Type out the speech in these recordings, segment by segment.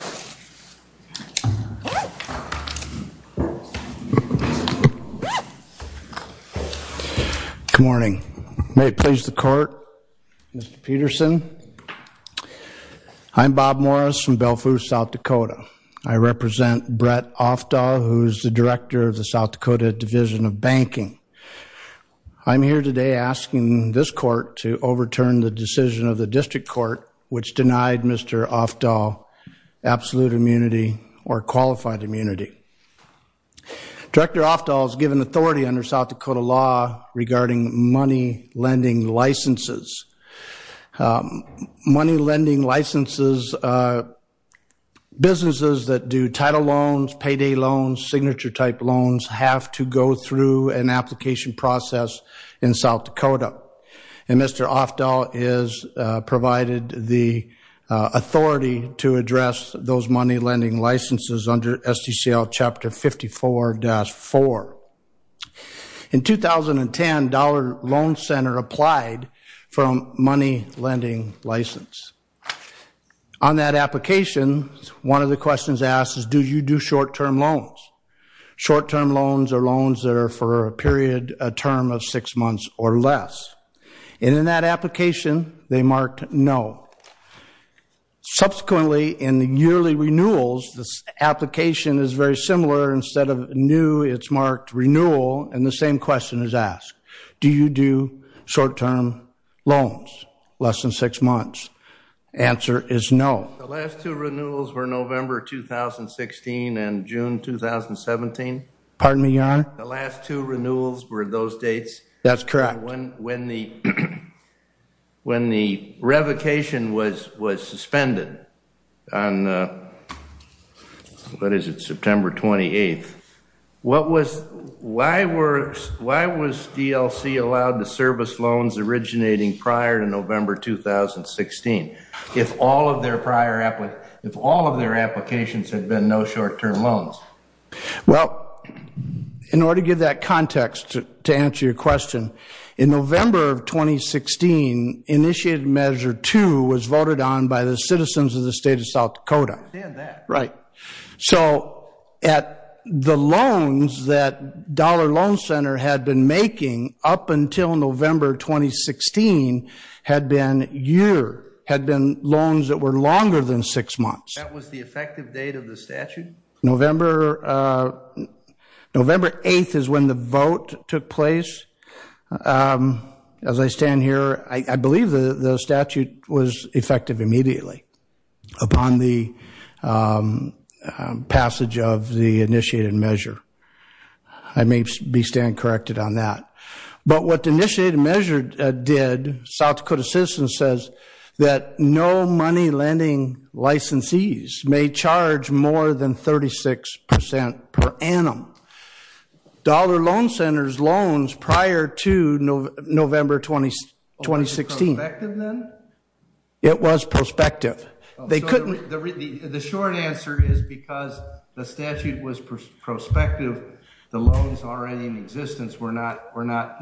Good morning. May it please the Court, Mr. Peterson. I'm Bob Morris from Bellevue, South Dakota. I represent Bret Afdahl, who is the Director of the South Dakota Division of Banking. I'm here today asking this Court to overturn the decision of the District Court which denied Mr. Afdahl absolute immunity or qualified immunity. Director Afdahl is given authority under South Dakota law regarding money lending licenses. Money lending licenses, businesses that do title loans, payday loans, signature type loans, have to go through an authority to address those money lending licenses under SDCL Chapter 54-4. In 2010, Dollar Loan Center applied for a money lending license. On that application, one of the questions asked is do you do short-term loans? Short-term loans are loans that are for a period, a term of six months or less. And in that application, they marked no. Subsequently, in the yearly renewals, the application is very similar. Instead of new, it's marked renewal, and the same question is asked. Do you do short-term loans? Less than six months. The answer is no. The last two renewals were November 2016 and June 2017. The last two renewals were those dates? That's correct. When the revocation was suspended on, what is it, September 28th, what was, why was DLC allowed to service loans originating prior to November 2016 if all of their prior, if all of their applications had been no short-term loans? Well, in order to give that context to answer your question, in November of 2016, Initiative Measure 2 was voted on by the citizens of the state of South Dakota. I understand that. Right. So at the loans that Dollar Loan Center had been making up until November 2016 had been year, had been loans that were longer than six months. That was the effective date of the statute? November, November 8th is when the vote took place. As I stand here, I believe the statute was effective immediately upon the passage of the Initiated Measure. I may be standing corrected on that. But what the Initiated Measure did, South Dakota Citizens says that no money lending licensees may charge more than 36% per annum. Dollar Loan Center's loans prior to November 2016. Was it prospective then? It was prospective. They couldn't. The short answer is because the statute was prospective, the loans already in existence were not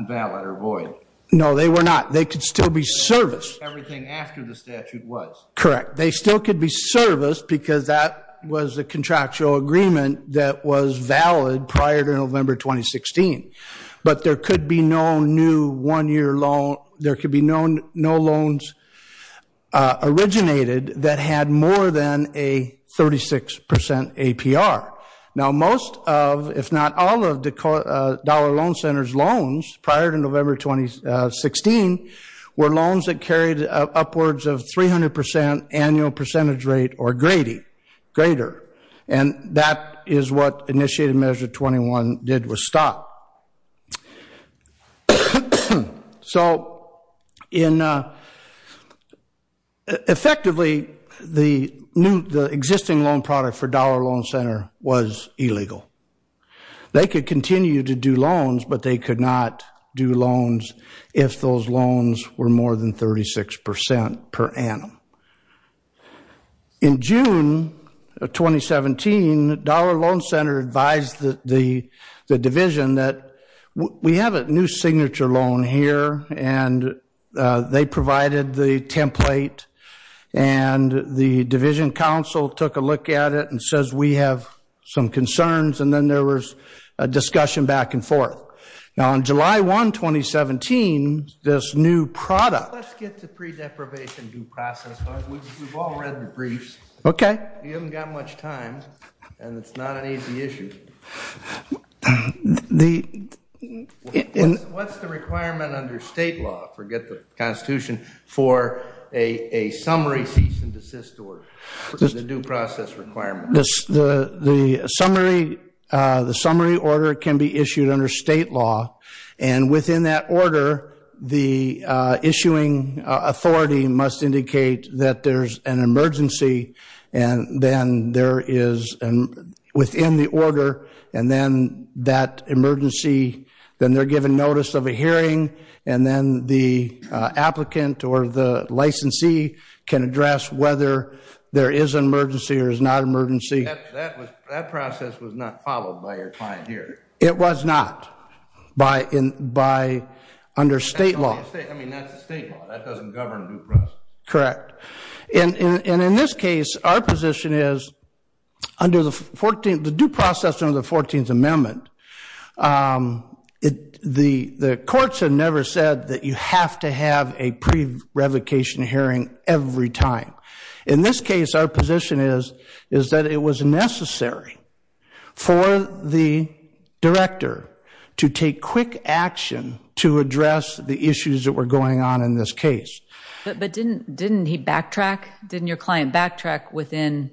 valid or void. No, they were not. They could still be serviced. Everything after the statute was. Correct. They still could be serviced because that was the contractual agreement that was valid prior to November 2016. But there could be no new one-year loan, there could be no loans originated that had more than a 36% APR. Now most of, if not all of the Dollar Loan Center's loans prior to November 2016 were loans that carried upwards of 300% annual percentage rate or greater. And that is what Initiated Measure 21 did was stop. So, effectively the existing loan product for Dollar Loan Center was illegal. They could continue to do loans, but they could not do loans if those loans were more than 36% per annum. In June of 2017, Dollar Loan Center advised the division that we have a new signature loan here and they provided the template and the division council took a look at it and says we have some concerns and then there was a discussion back and forth. Now on July 1, 2017, this new product. Let's get to pre-deprivation due process. We've all read the briefs. Okay. We haven't got much time and it's not an easy issue. What's the requirement under state law, forget the Constitution, for a summary cease and desist order, the due process requirement? The summary order can be issued under state law and within that order, the issuing authority must indicate that there's an emergency and then there is within the order and then that emergency, then they're given notice of a hearing and then the applicant or the licensee can address whether there is an emergency or is not an emergency. That process was not followed by your client here. It was not. Under state law. That's the state law. That doesn't govern due process. Correct. In this case, our position is under the 14th, the due process under the 14th Amendment, the courts have never said that you have to have a pre-revocation hearing every time. In this case, our position is that it was necessary for the director to take quick action to address the issues that were going on in this case. But didn't he backtrack? Didn't your client backtrack within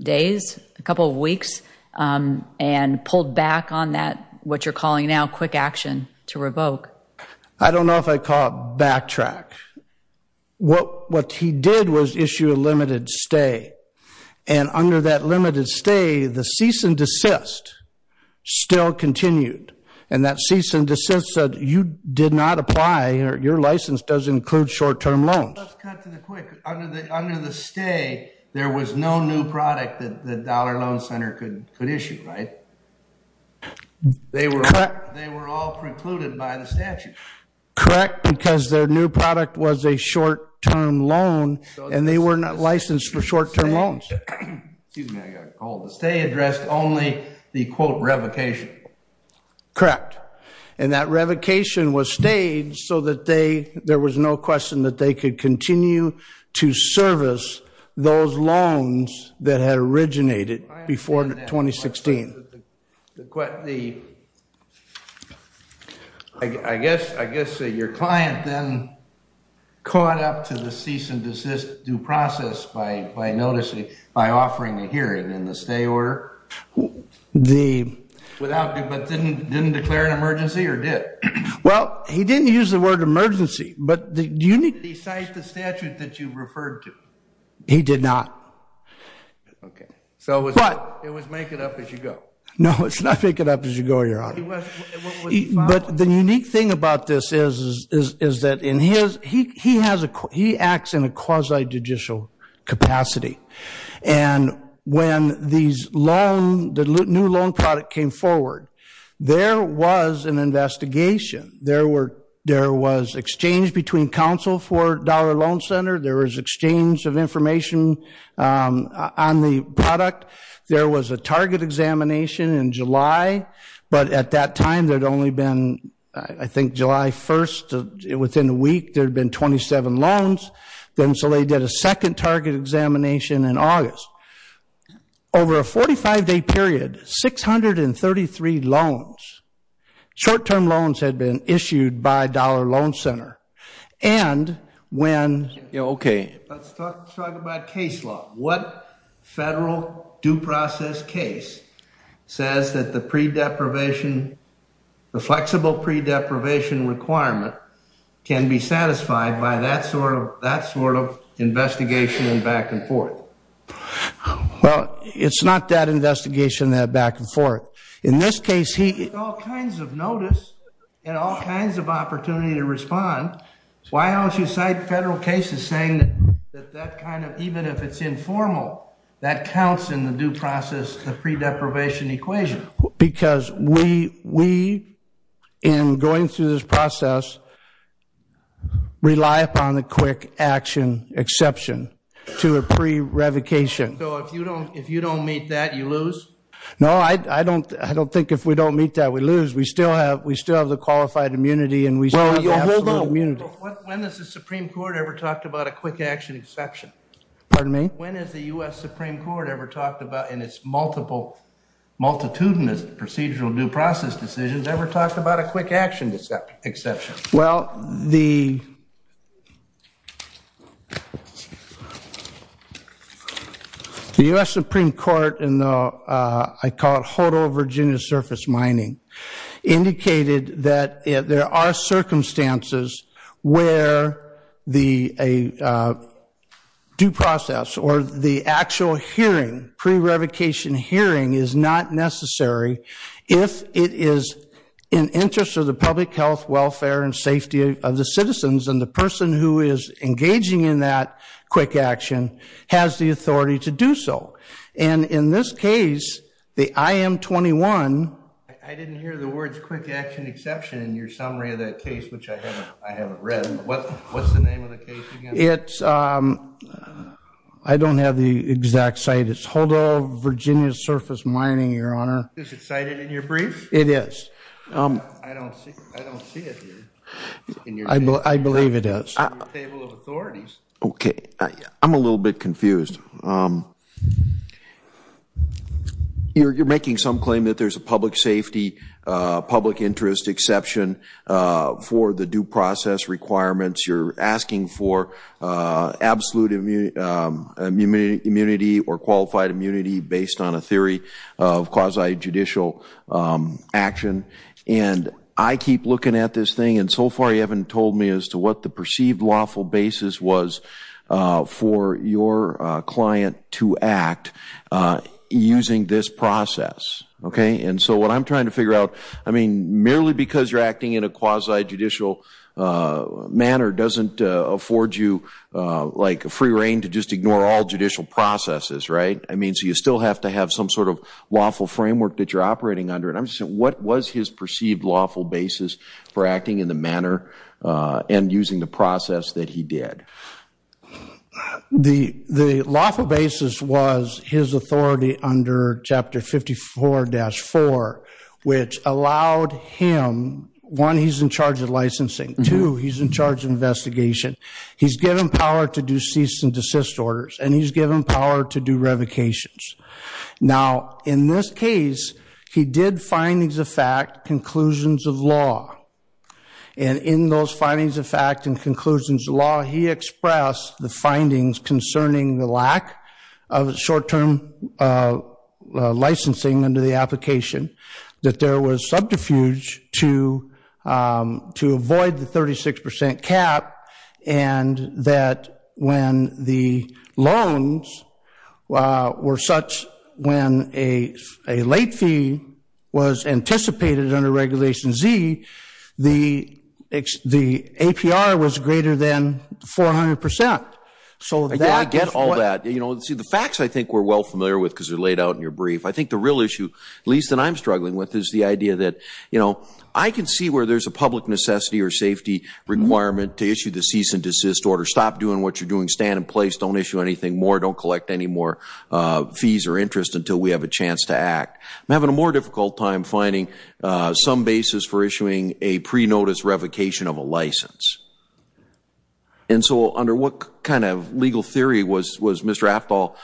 days, a couple of weeks, and pulled back on that, what you're calling now, quick action to revoke? I don't know if I call it backtrack. What he did was issue a limited stay and under that limited stay, the cease and desist still continued. And that cease and desist said you did not apply, your license does include short-term loans. Let's cut to quick. Under the stay, there was no new product that the Dollar Loan Center could issue, right? They were all precluded by the statute. Correct, because their new product was a short-term loan and they were not licensed for short-term loans. Excuse me, I got a cold. The stay addressed only the quote revocation. Correct. And that revocation was stayed so that there was no question that they could continue to service those loans that had originated before 2016. I guess your client then caught up to the cease and desist due process by noticing, by offering to hear it in the stay order, but didn't declare an emergency or did? Well, he didn't use the word emergency, but the unique... He cited the statute that you referred to? He did not. Okay, so it was make it up as you go. No, it's not make it up as you go, your honor. But the unique thing about this is that he acts in a quasi-judicial capacity. And when the new loan product came forward, there was an investigation. There was exchange between counsel for Dollar Loan Center. There was exchange of information on the product. There was a target examination in July, but at that time there had only been, I think July 1st, within a week there had been 27 loans. Then so they did a second target examination in August. Over a 45-day period, 633 loans, short-term loans had been issued by Dollar Loan Center. And when... Okay, let's talk about case law. What federal due process case says that the flexible pre-deprivation requirement can be satisfied by that sort of investigation and back and forth? Well, it's not that investigation that back and forth. In this case, he... All kinds of notice and all kinds of opportunity to respond. Why don't you cite federal cases saying that that kind of, even if it's informal, that counts in the due process, the pre-deprivation equation? Because we, in going through this process, rely upon the quick action exception to a pre-revocation. So if you don't meet that, you lose? No, I don't think if we don't meet that, we lose. We still have the qualified immunity and we still have the absolute immunity. Hold on. When has the Supreme Court ever talked about a quick action exception? Pardon me? When has the U.S. Supreme Court ever talked about, in its multitudinous procedural due process decisions, ever talked about a quick action exception? Well, the U.S. Supreme Court in the, I call it HODL Virginia Surface Mining, indicated that there are circumstances where the due process or the actual hearing, pre-revocation hearing, is not necessary if it is in interest of the public health, welfare, and safety of the citizens and the person who is engaging in that quick action has the authority to do so. And in this case, the IM-21. I didn't hear the words quick action exception in your summary of that case, which I haven't read. What's the name of the case again? It's, I don't have the exact site. It's HODL Virginia Surface Mining, Your Honor. Is it cited in your brief? It is. I don't see it here. I believe it is. Okay, I'm a little bit confused. You're making some claim that there's a public safety, public interest exception for the due process requirements. You're asking for absolute immunity or qualified immunity based on a theory of quasi-judicial action. And I keep looking at this thing and so far you haven't told me as to what the perceived lawful basis was for your client to act using this process, okay? And so what I'm trying to figure out, I mean, merely because you're acting in a quasi-judicial manner doesn't afford you, like, free reign to just ignore all judicial processes, right? I mean, you still have to have some sort of lawful framework that you're operating under. And I'm just saying, what was his perceived lawful basis for acting in the manner and using the process that he did? The lawful basis was his authority under Chapter 54-4, which allowed him, one, he's in charge of licensing. Two, he's in charge of investigation. He's given power to do cease and desist orders. And he's given power to do revocations. Now, in this case, he did findings of fact, conclusions of law. And in those findings of fact and conclusions of law, he expressed the findings concerning the lack of short-term licensing under the application, that there was subterfuge to avoid the 36 percent cap, and that when the loans were such, when a late fee was anticipated under Regulation Z, the APR was greater than 400 percent. So that- I get all that. You know, see, the facts I think we're well familiar with, because they're laid out in your brief. I think the real issue, at least that I'm struggling with, is the idea that, you know, I can see where there's a public necessity or safety requirement to issue the cease and desist order. Stop doing what you're doing. Stand in place. Don't issue anything more. Don't collect any more fees or interest until we have a chance to act. I'm having a more difficult time finding some basis for issuing a pre-notice revocation of a license. And so under what kind of legal theory was Mr. Aftal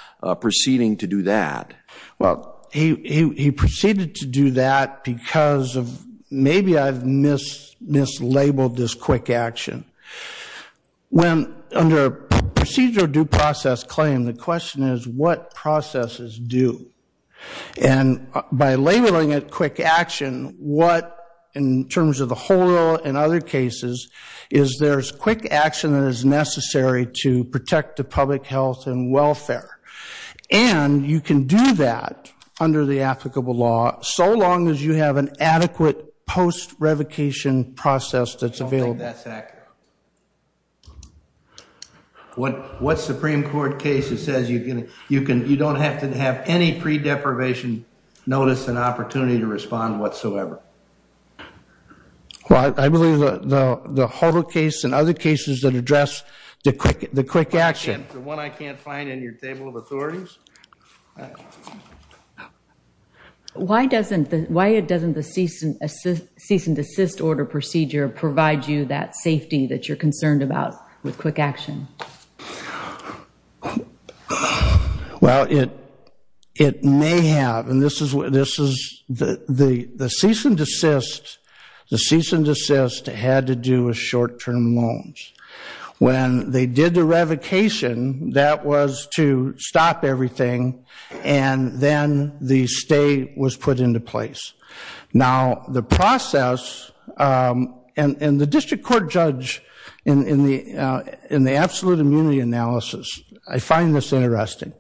proceeding to do that? Well, he proceeded to do that because of, maybe I've mislabeled this quick action. When, under a procedural due process claim, the question is, what processes do? And by labeling it quick action, what, in terms of the whole rule and other cases, is there's quick action that is necessary to protect the public health and welfare. And you can do that under the applicable law, so long as you have an adequate post-revocation process that's available. I don't think that's accurate. What Supreme Court case says you can, you don't have to have any pre-deprivation notice and opportunity to respond whatsoever? Well, I believe the Holder case and other cases that address the quick, the quick action. The one I can't find in your table of authorities? Why doesn't the, why doesn't the cease and, cease and desist order procedure provide you that safety that you're concerned about with quick action? Well, it, it may have, and this is what, this is the, the cease and desist, the cease and desist had to do with short-term loans. When they did the revocation, that was to stop everything, and then the stay was put into place. Now, the process, and, and the district court judge in, in the, in the absolute immunity analysis, I find this interesting,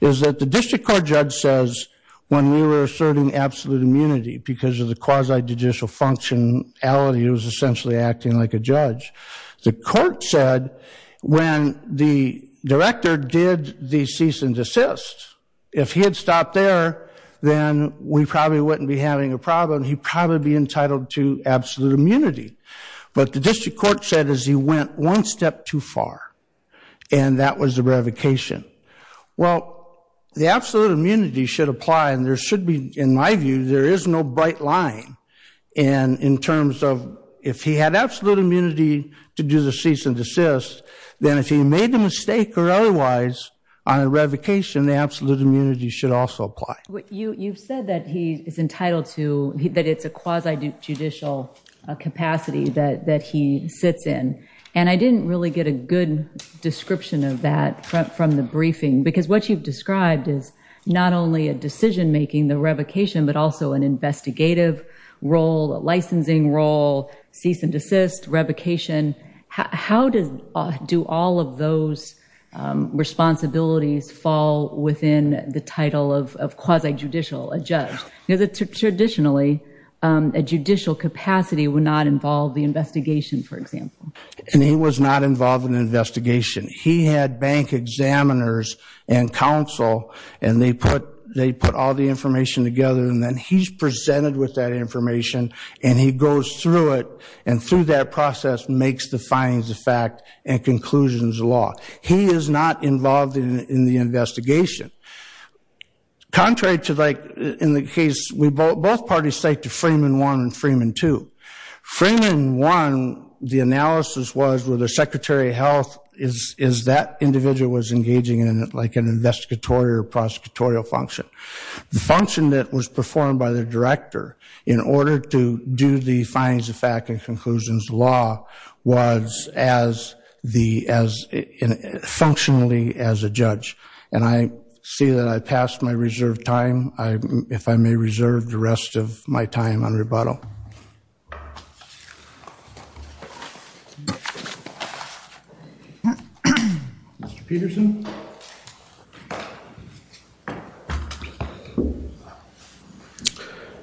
is that the district court judge says when we were asserting absolute immunity because of the quasi-judicial functionality, it was essentially acting like a judge. The court said when the director did the cease and desist, if he had stopped there, then we probably wouldn't be having a problem. He'd probably be entitled to absolute immunity, but the district court said as he went one step too far, and that was the revocation. Well, the absolute immunity should apply, and there should be, in my view, there is no bright line, and in terms of if he had absolute immunity to do the cease and desist, then if he made the mistake or otherwise on a revocation, the absolute immunity should also apply. You, you've said that he is entitled to, that it's a quasi-judicial capacity that, that he sits in, and I didn't really get a good description of that from the briefing, because what you've described is not only a decision-making, the revocation, but also an investigative role, a licensing role, cease and desist, revocation. How did, do all of those responsibilities fall within the title of quasi-judicial, a judge? Traditionally, a judicial capacity would not involve the investigation, for example. And he was not involved in the investigation. He had bank examiners and counsel, and they put, they put all the information together, and then he's presented with that information, and he goes through it, and through that process, makes the findings of fact and conclusions of law. He is not involved in the investigation. Contrary to, like, in the case, we both, both parties cite to Freeman 1 and Freeman 2. Freeman 1, the analysis was whether Secretary of Health is, is that individual was engaging in, like, an investigatory or prosecutorial function. The function that was in the findings of fact and conclusions of law was as the, as, functionally as a judge. And I see that I passed my reserved time. I, if I may reserve the rest of my time on rebuttal. Mr. Peterson.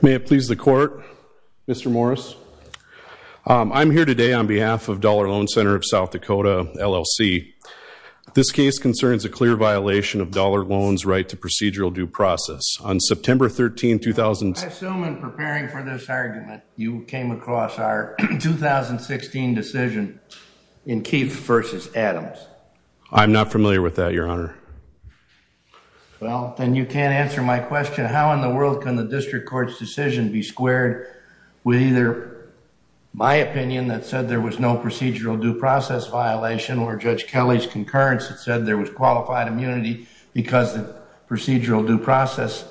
May it please the Court, Mr. Morris. I'm here today on behalf of Dollar Loan Center of South Dakota, LLC. This case concerns a clear violation of Dollar Loan's right to procedural due process. On September 13, 2000... I assume in preparing for this argument, you came across our 2016 decision in Keith versus Adams. I'm not familiar with that, Your Honor. Well, then you can't answer my question. How in the world can the district court's decision be squared with either my opinion that said there was no procedural due process violation, or Judge Kelly's concurrence that said there was qualified immunity because the procedural due process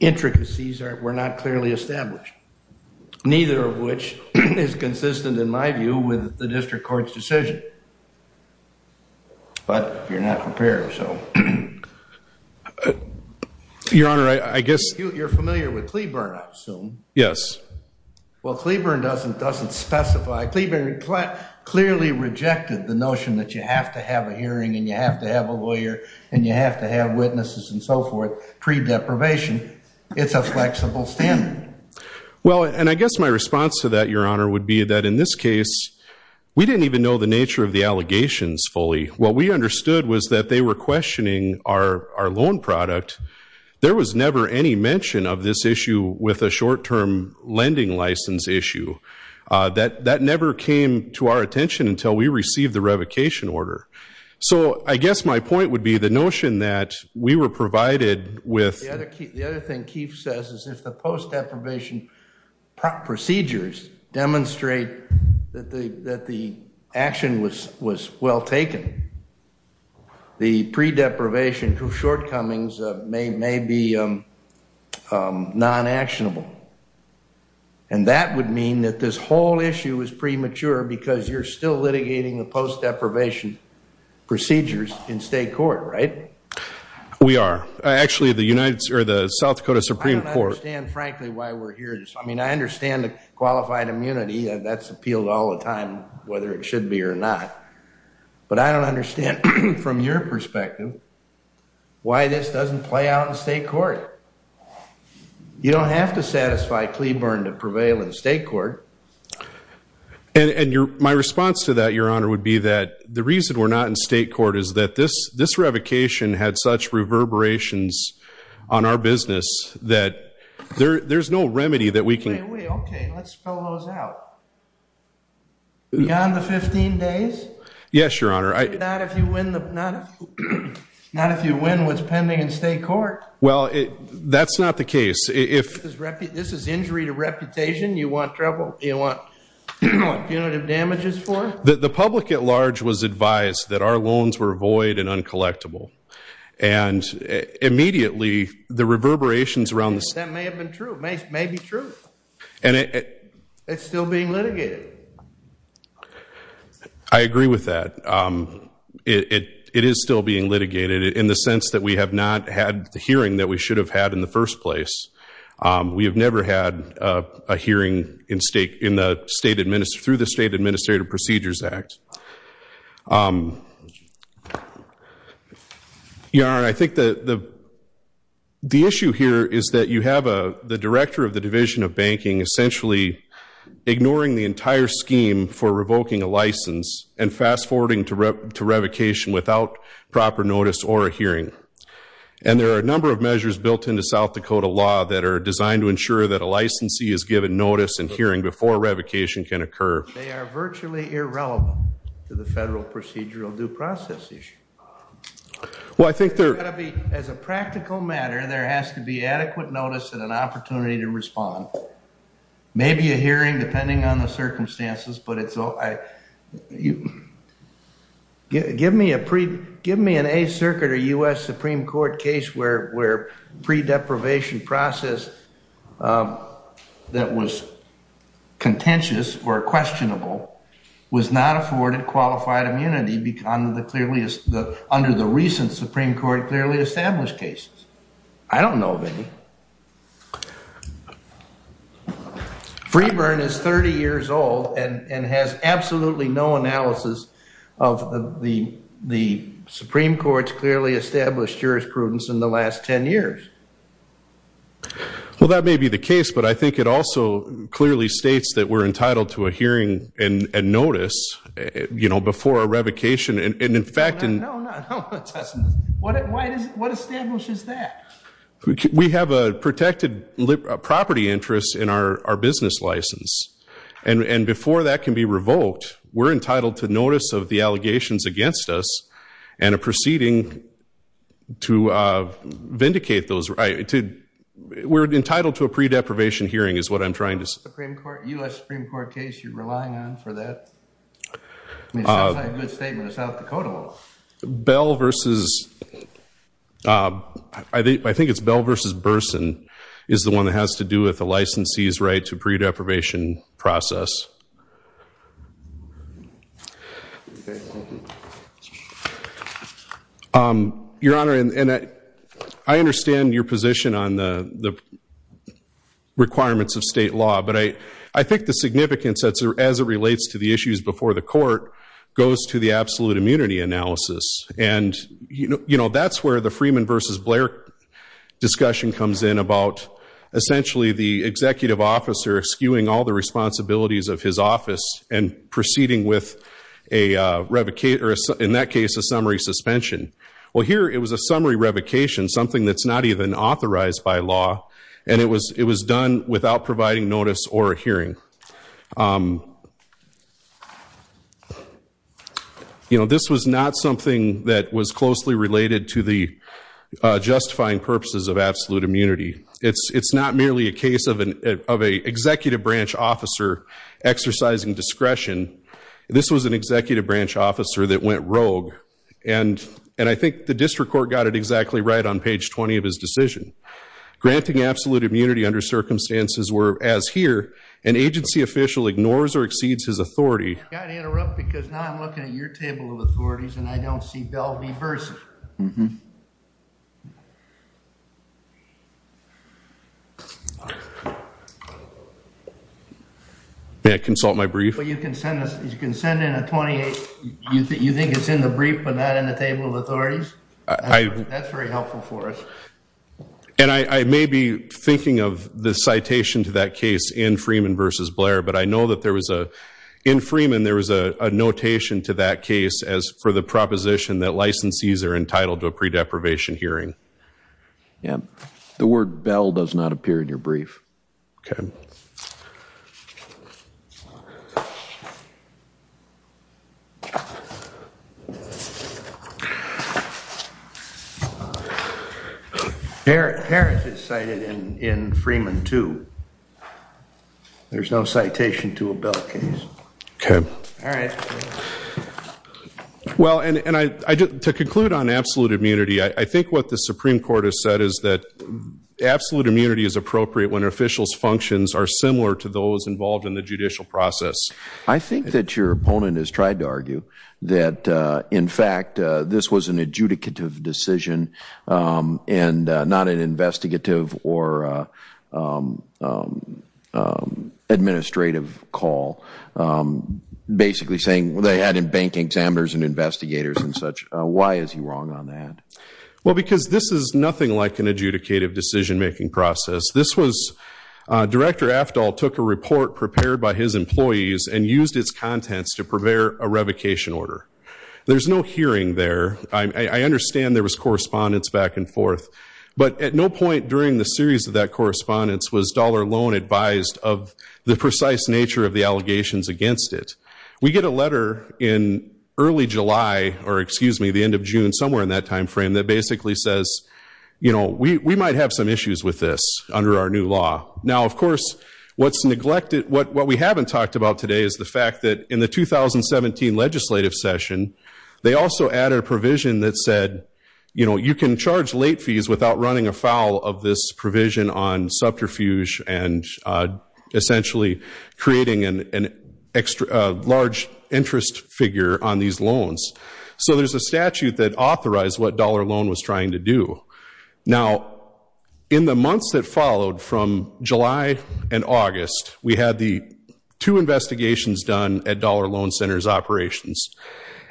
intricacies were not clearly established. Neither of which is consistent, in my view, with the district court's decision. But you're not prepared, so... Your Honor, I guess... You're familiar with Cleburne, I assume. Yes. Well, Cleburne doesn't specify, Cleburne clearly rejected the notion that you have to have a hearing and you have to have a lawyer and you have to have witnesses and so forth, pre-deprivation. It's a flexible standard. Well, and I guess my response to that, Your Honor, would be that in this case, we didn't even know the nature of the allegations fully. What we understood was that they were questioning our loan product. There was never any mention of this issue with a short-term lending license issue. That never came to our attention until we received the revocation order. So I guess my point would be the notion that we were provided with... The other thing Keith says is if the post-deprivation procedures demonstrate that the action was well taken, the pre-deprivation shortcomings may be non-actionable. And that would mean that this whole issue is premature because you're still litigating the post-deprivation procedures in state court, right? We are. Actually, the South Dakota Supreme Court... I mean, I understand the qualified immunity. That's appealed all the time, whether it should be or not. But I don't understand from your perspective why this doesn't play out in state court. You don't have to satisfy Cleburne to prevail in state court. And my response to that, Your Honor, would be that the reason we're not in state court is that this revocation had such reverberations on our business that there's no remedy that we can... Wait, wait, okay. Let's spell those out. Beyond the 15 days? Yes, Your Honor. Not if you win what's pending in state court. Well, that's not the case. This is injury to reputation. You want trouble? You want punitive damages for? The public at large was advised that our loans were void and uncollectible. And immediately, the reverberations around this... That may have been true. It may be true. It's still being litigated. I agree with that. It is still being litigated in the sense that we have not had the hearing that we should have had in the first place. We have never had a hearing through the state Administrative Procedures Act. Your Honor, I think the issue here is that you have the Director of the Division of Banking essentially ignoring the entire scheme for revoking a license and fast-forwarding to revocation without proper notice or a hearing. And there are a number of measures built into South Dakota law that are designed to ensure that a licensee is given notice and hearing before revocation can occur. They are virtually irrelevant to the federal procedural due process issue. As a practical matter, there has to be adequate notice and an opportunity to respond. Maybe a hearing depending on the circumstances, but it's... Give me an Eighth Circuit or U.S. Supreme Court case where pre-deprivation process that was contentious or questionable was not afforded qualified immunity under the recent Supreme Court clearly established cases. I don't know of any. Freeburn is 30 years old and has absolutely no analysis of the Supreme Court's clearly established jurisprudence in the last 10 years. Well, that may be the case, but I think it also clearly states that we're entitled to a hearing and notice before a revocation. And in fact... What establishes that? We have a protected property interest in our business license. And before that can be revoked, we're entitled to notice of the allegations against us and a proceeding to vindicate those right to... We're entitled to a pre-deprivation hearing is what I'm trying to say. Supreme Court, U.S. Supreme Court case you're relying on for that? I mean, it sounds like a good statement in South Dakota law. Bell versus... I think it's Bell versus Burson is the one that has to do with the licensee's right to pre-deprivation process. Your Honor, and I understand your position on the requirements of state law. But I think the significance as it relates to the issues before the court goes to the absolute immunity analysis. And that's where the Freeman versus Blair discussion comes in about, essentially, the executive officer skewing all the responsibilities of his office and proceeding with, in that case, a summary suspension. Well, here it was a summary revocation, something that's not even authorized by law. And it was done without providing notice or a hearing. This was not something that was closely related to the justifying purposes of absolute immunity. It's not merely a case of an executive branch officer exercising discretion. This was an executive branch officer that went rogue. And I think the district court got it exactly right on page 20 of his decision. Granting absolute immunity under circumstances where, as here, an agency official ignores or exceeds his authority. I've got to interrupt because now I'm looking at your table of authorities and I don't see Bell v. Burson. May I consult my brief? Well, you can send in a 28. You think it's in the brief but not in the table of authorities? That's very helpful for us. And I may be thinking of the citation to that case in Freeman versus Blair. But I know that there was a, in Freeman, there was a notation to that case as for the proposition that licensees are entitled to a pre-deprivation hearing. Yeah. The word Bell does not appear in your brief. Okay. Harris is cited in Freeman too. There's no citation to a Bell case. Okay. All right. All right. Well, and I, to conclude on absolute immunity, I think what the Supreme Court has said is that absolute immunity is appropriate when an official's functions are similar to those involved in the judicial process. I think that your opponent has tried to argue that, in fact, this was an adjudicative decision and not an investigative or administrative call. I'm basically saying they added bank examiners and investigators and such. Why is he wrong on that? Well, because this is nothing like an adjudicative decision-making process. This was, Director Aftal took a report prepared by his employees and used its contents to prepare a revocation order. There's no hearing there. I understand there was correspondence back and forth. But at no point during the series of that correspondence was Dollar Loan advised of the precise nature of the allegations against it. We get a letter in early July or, excuse me, the end of June, somewhere in that time frame, that basically says, you know, we might have some issues with this under our new law. Now, of course, what's neglected, what we haven't talked about today is the fact that in the 2017 legislative session, they also added a provision that said, you know, you can charge late fees without running afoul of this provision on subterfuge and essentially creating a large interest figure on these loans. So there's a statute that authorized what Dollar Loan was trying to do. Now, in the months that followed from July and August, we had the two investigations done at Dollar Loan Center's operations.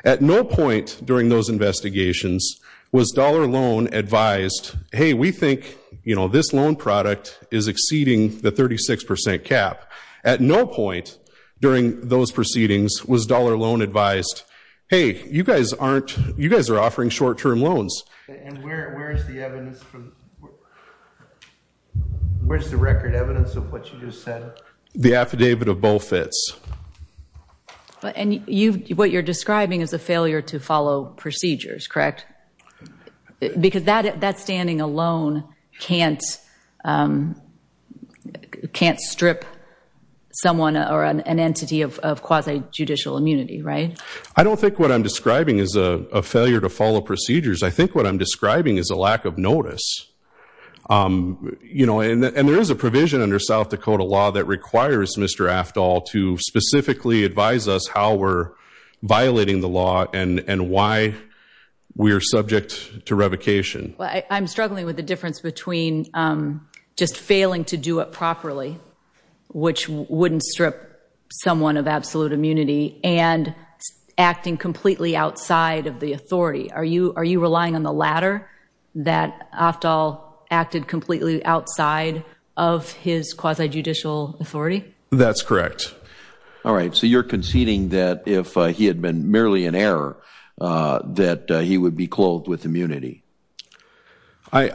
At no point during those investigations was Dollar Loan advised, hey, we think, you know, this loan product is exceeding the 36% cap. At no point during those proceedings was Dollar Loan advised, hey, you guys aren't, you guys are offering short-term loans. And where's the evidence from, where's the record evidence of what you just said? The affidavit of Beaufitz. But, and you, what you're describing is a failure to follow procedures, correct? Because that standing alone can't, can't strip someone or an entity of quasi-judicial immunity, right? I don't think what I'm describing is a failure to follow procedures. I think what I'm describing is a lack of notice. Um, you know, and there is a provision under South Dakota law that requires Mr. Aftal to specifically advise us how we're violating the law and, and why we're subject to revocation. Well, I'm struggling with the difference between, um, just failing to do it properly, which wouldn't strip someone of absolute immunity, and acting completely outside of the authority. Are you, are you relying on the latter? That Aftal acted completely outside of his quasi-judicial authority? That's correct. All right. So you're conceding that if he had been merely in error, uh, that he would be clothed with immunity. I,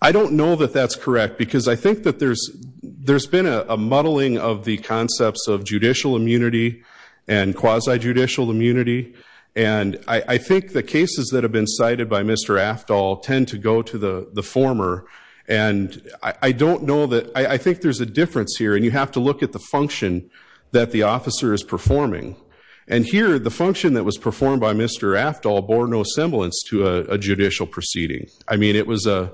I don't know that that's correct because I think that there's, there's been a muddling of the concepts of judicial immunity and quasi-judicial immunity. And I, I think the cases that have been cited by Mr. Aftal tend to go to the, the former. And I, I don't know that, I, I think there's a difference here and you have to look at the function that the officer is performing. And here, the function that was performed by Mr. Aftal bore no semblance to a, a judicial proceeding. I mean, it was a,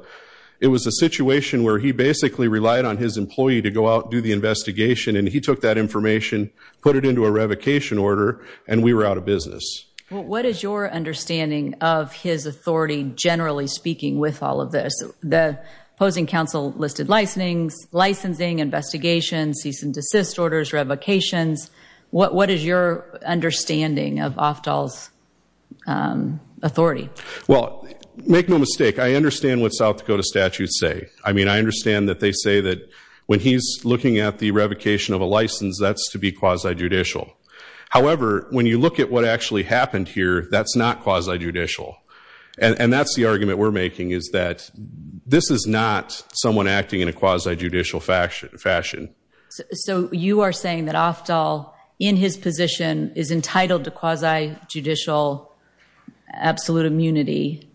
it was a situation where he basically relied on his employee to go out and do the investigation and he took that information, put it into a revocation order, and we were out of business. What is your understanding of his authority, generally speaking, with all of this? The opposing counsel listed licensings, licensing, investigations, cease and desist orders, revocations. What is your understanding of Aftal's, um, authority? Well, make no mistake. I understand what South Dakota statutes say. I mean, I understand that they say that when he's looking at the revocation of a license, that's to be quasi-judicial. However, when you look at what actually happened here, that's not quasi-judicial. And that's the argument we're making is that this is not someone acting in a quasi-judicial fashion, fashion. So you are saying that Aftal, in his position, is entitled to quasi-judicial absolute immunity,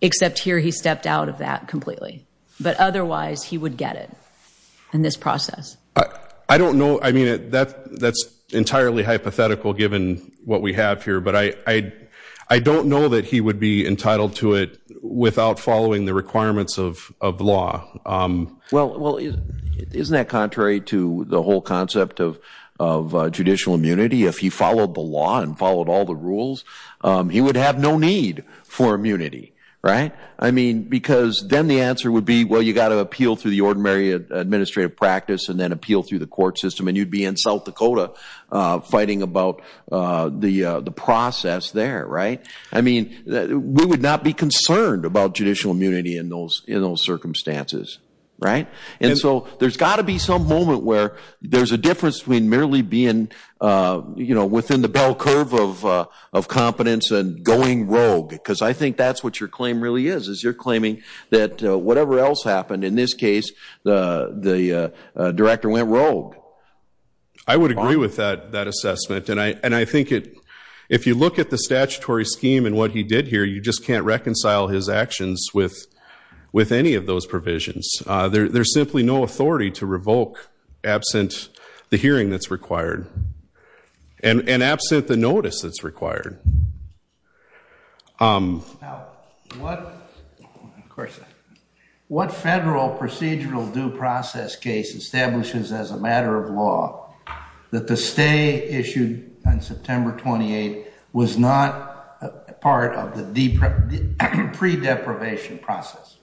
except here he stepped out of that completely. But otherwise, he would get it in this process. I don't know. That's entirely hypothetical, given what we have here. But I don't know that he would be entitled to it without following the requirements of law. Well, isn't that contrary to the whole concept of judicial immunity? If he followed the law and followed all the rules, he would have no need for immunity, right? I mean, because then the answer would be, well, you got to appeal through the ordinary administrative practice and then appeal through the court system. And you'd be in South Dakota fighting about the process there, right? I mean, we would not be concerned about judicial immunity in those circumstances, right? And so there's got to be some moment where there's a difference between merely being within the bell curve of competence and going rogue. Because I think that's what your claim really is, is you're claiming that whatever else happened, in this case, the director went rogue. I would agree with that assessment. And I think if you look at the statutory scheme and what he did here, you just can't reconcile his actions with any of those provisions. There's simply no authority to revoke absent the hearing that's required and absent the notice that's required. Now, what federal procedural due process case establishes as a matter of law that the stay issued on September 28 was not part of the pre-deprivation process?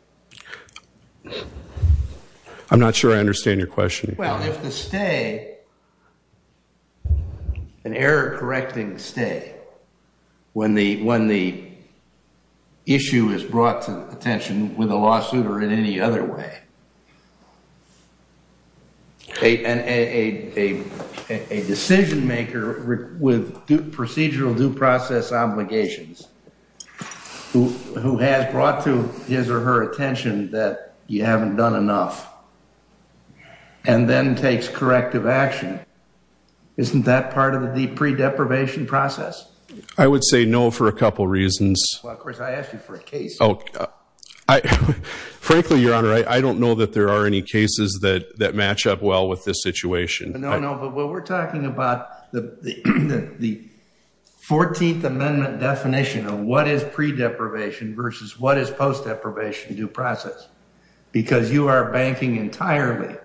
I'm not sure I understand your question. Well, if the stay, an error-correcting stay, when the issue is brought to attention with a lawsuit or in any other way, a decision maker with procedural due process obligations who has brought to his or her attention that you haven't done enough and then takes corrective action, isn't that part of the pre-deprivation process? I would say no for a couple reasons. Well, of course, I asked you for a case. Frankly, Your Honor, I don't know that there are any cases that match up well with this situation. No, no. But what we're talking about, the 14th Amendment definition of what is pre-deprivation versus what is post-deprivation due process. Because you are banking entirely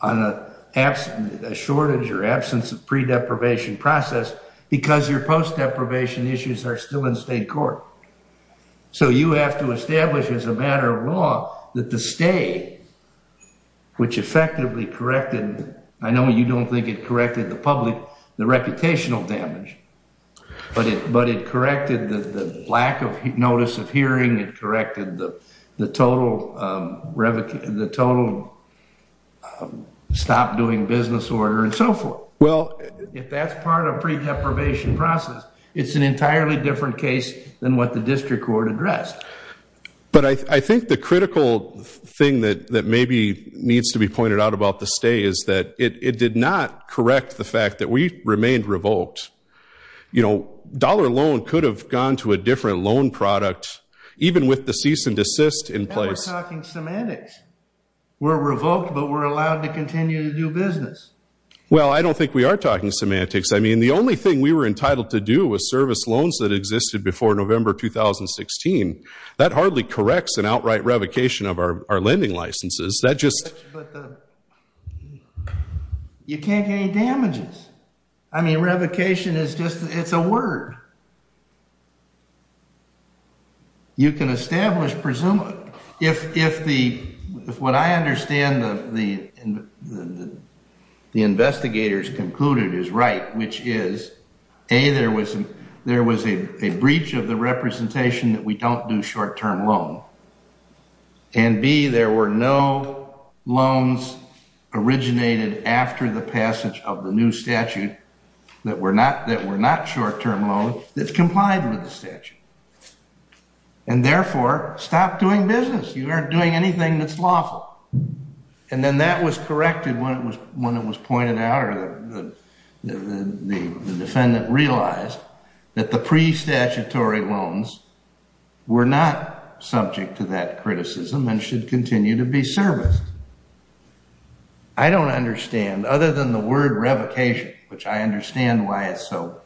on a shortage or absence of pre-deprivation process because your post-deprivation issues are still in state court. So you have to establish as a matter of law that the stay, which effectively corrected, I know you don't think it corrected the public, the reputational damage, but it corrected the lack of notice of hearing, it corrected the total stop doing business order and so forth. If that's part of pre-deprivation process, it's an entirely different case than what the district court addressed. But I think the critical thing that maybe needs to be pointed out about the stay is that it did not correct the fact that we remained revoked. You know, dollar loan could have gone to a different loan product even with the cease and desist in place. Now we're talking semantics. We're revoked, but we're allowed to continue to do business. Well, I don't think we are talking semantics. I mean, the only thing we were entitled to do was service loans that existed before November 2016. That hardly corrects an outright revocation of our lending licenses. That just. You can't get any damages. I mean, revocation is just, it's a word. You can establish, if what I understand the investigators concluded is right, which is A, there was a breach of the representation that we don't do short-term loan. And B, there were no loans originated after the passage of the new statute that were not short-term loans that complied with the statute. And therefore, stop doing business. You aren't doing anything that's lawful. And then that was corrected when it was pointed out or the defendant realized that the pre-statutory loans were not subject to that criticism and should continue to be serviced. I don't understand, other than the word revocation, which I understand why it's so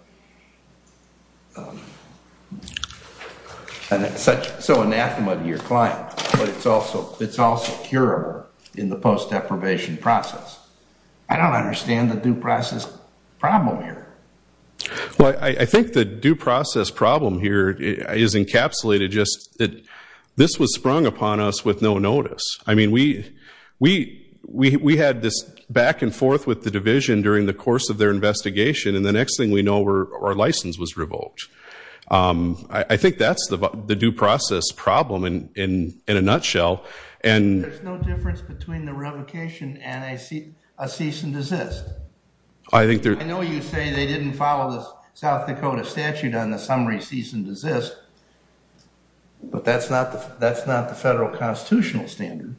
anathema to your client, but it's also curable in the post-deprivation process. I don't understand the due process problem here. Well, I think the due process problem here is encapsulated just that this was sprung upon us with no notice. I mean, we had this back and forth with the division during the course of their investigation. And the next thing we know, our license was revoked. I think that's the due process problem in a nutshell. There's no difference between the revocation and a cease and desist. I know you say they didn't follow the South Dakota statute on the summary cease and desist, but that's not the federal constitutional standard.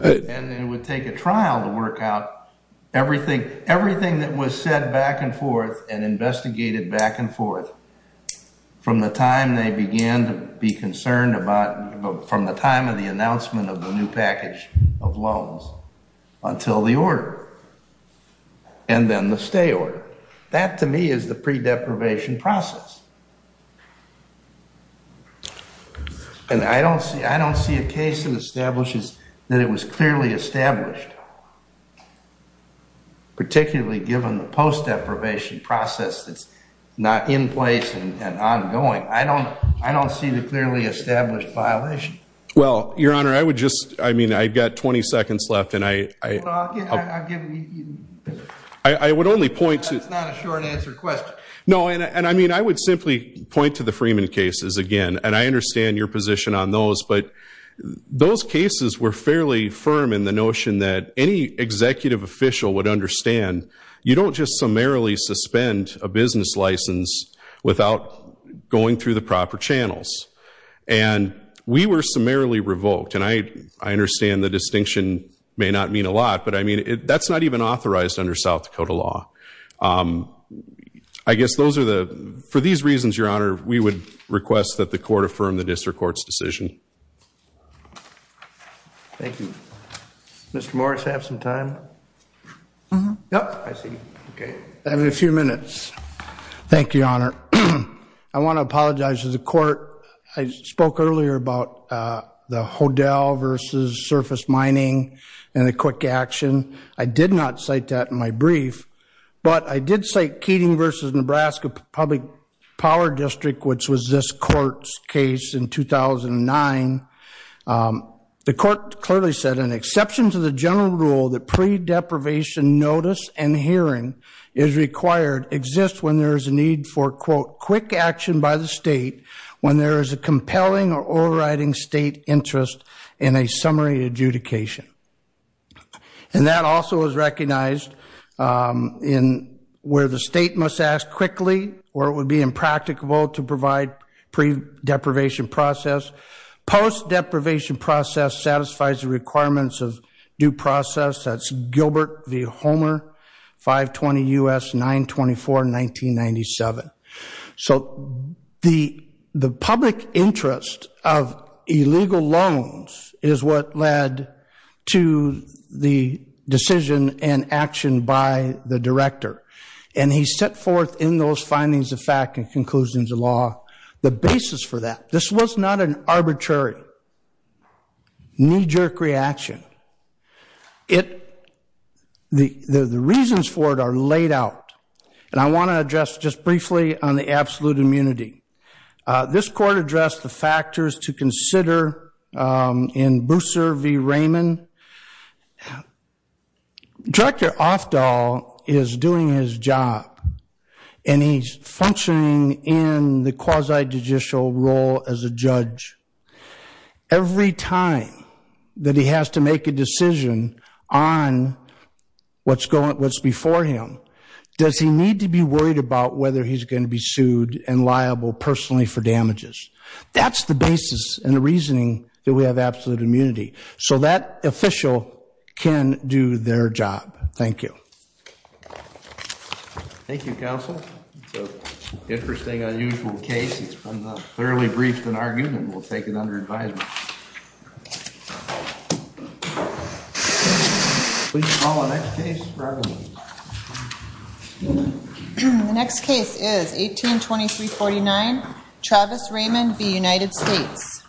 And it would take a trial to work out everything that was said back and forth and investigated back and forth from the time they began to be concerned about from the time of the announcement of the new package of loans until the order. And then the stay order. That, to me, is the pre-deprivation process. And I don't see a case that establishes that it was clearly established, particularly given the post-deprivation process that's not in place and ongoing. I don't see the clearly established violation. Well, your honor, I would just, I mean, I've got 20 seconds left and I... I'll give you... I would only point to... That's not a short answer question. No, and I mean, I would simply point to the Freeman cases again. And I understand your position on those. But those cases were fairly firm in the notion that any executive official would understand you don't just summarily suspend a business license without going through the proper channels. And we were summarily revoked. And I understand the distinction may not mean a lot, but I mean, that's not even authorized under South Dakota law. I guess those are the... For these reasons, your honor, we would request that the court affirm the district court's decision. Thank you. Mr. Morris, have some time? Yep. I see. Okay. I have a few minutes. Thank you, your honor. I want to apologize to the court. I spoke earlier about the Hodel versus surface mining and the quick action. I did not cite that in my brief. But I did cite Keating versus Nebraska Public Power District, which was this court's case in 2009. The court clearly said an exception to the general rule that pre-deprivation notice and hearing is required exists when there is a need for, quote, quick action by the state when there is a compelling or overriding state interest in a summary adjudication. And that also is recognized in where the state must ask quickly or it would be impracticable to provide pre-deprivation process. Post-deprivation process satisfies the requirements of due process. That's Gilbert v. Homer, 520 U.S. 924, 1997. So the public interest of illegal loans is what led to the decision and action by the director. And he set forth in those findings of fact and conclusions of law the basis for that. This was not an arbitrary knee-jerk reaction. The reasons for it are laid out. And I want to address just briefly on the absolute immunity. This court addressed the factors to consider in Booser v. Raymond. Director Ofdahl is doing his job and he's functioning in the quasi-judicial role as a judge. Every time that he has to make a decision on what's going, what's before him, does he need to be worried about whether he's going to be sued and liable personally for damages? That's the basis and the reasoning that we have absolute immunity. So that official can do their job. Thank you. Thank you, counsel. So interesting, unusual case. It's been thoroughly briefed in argument. We'll take it under advisement. Please call the next case, Reverend. The next case is 1823-49, Travis Raymond v. United States. Thank you.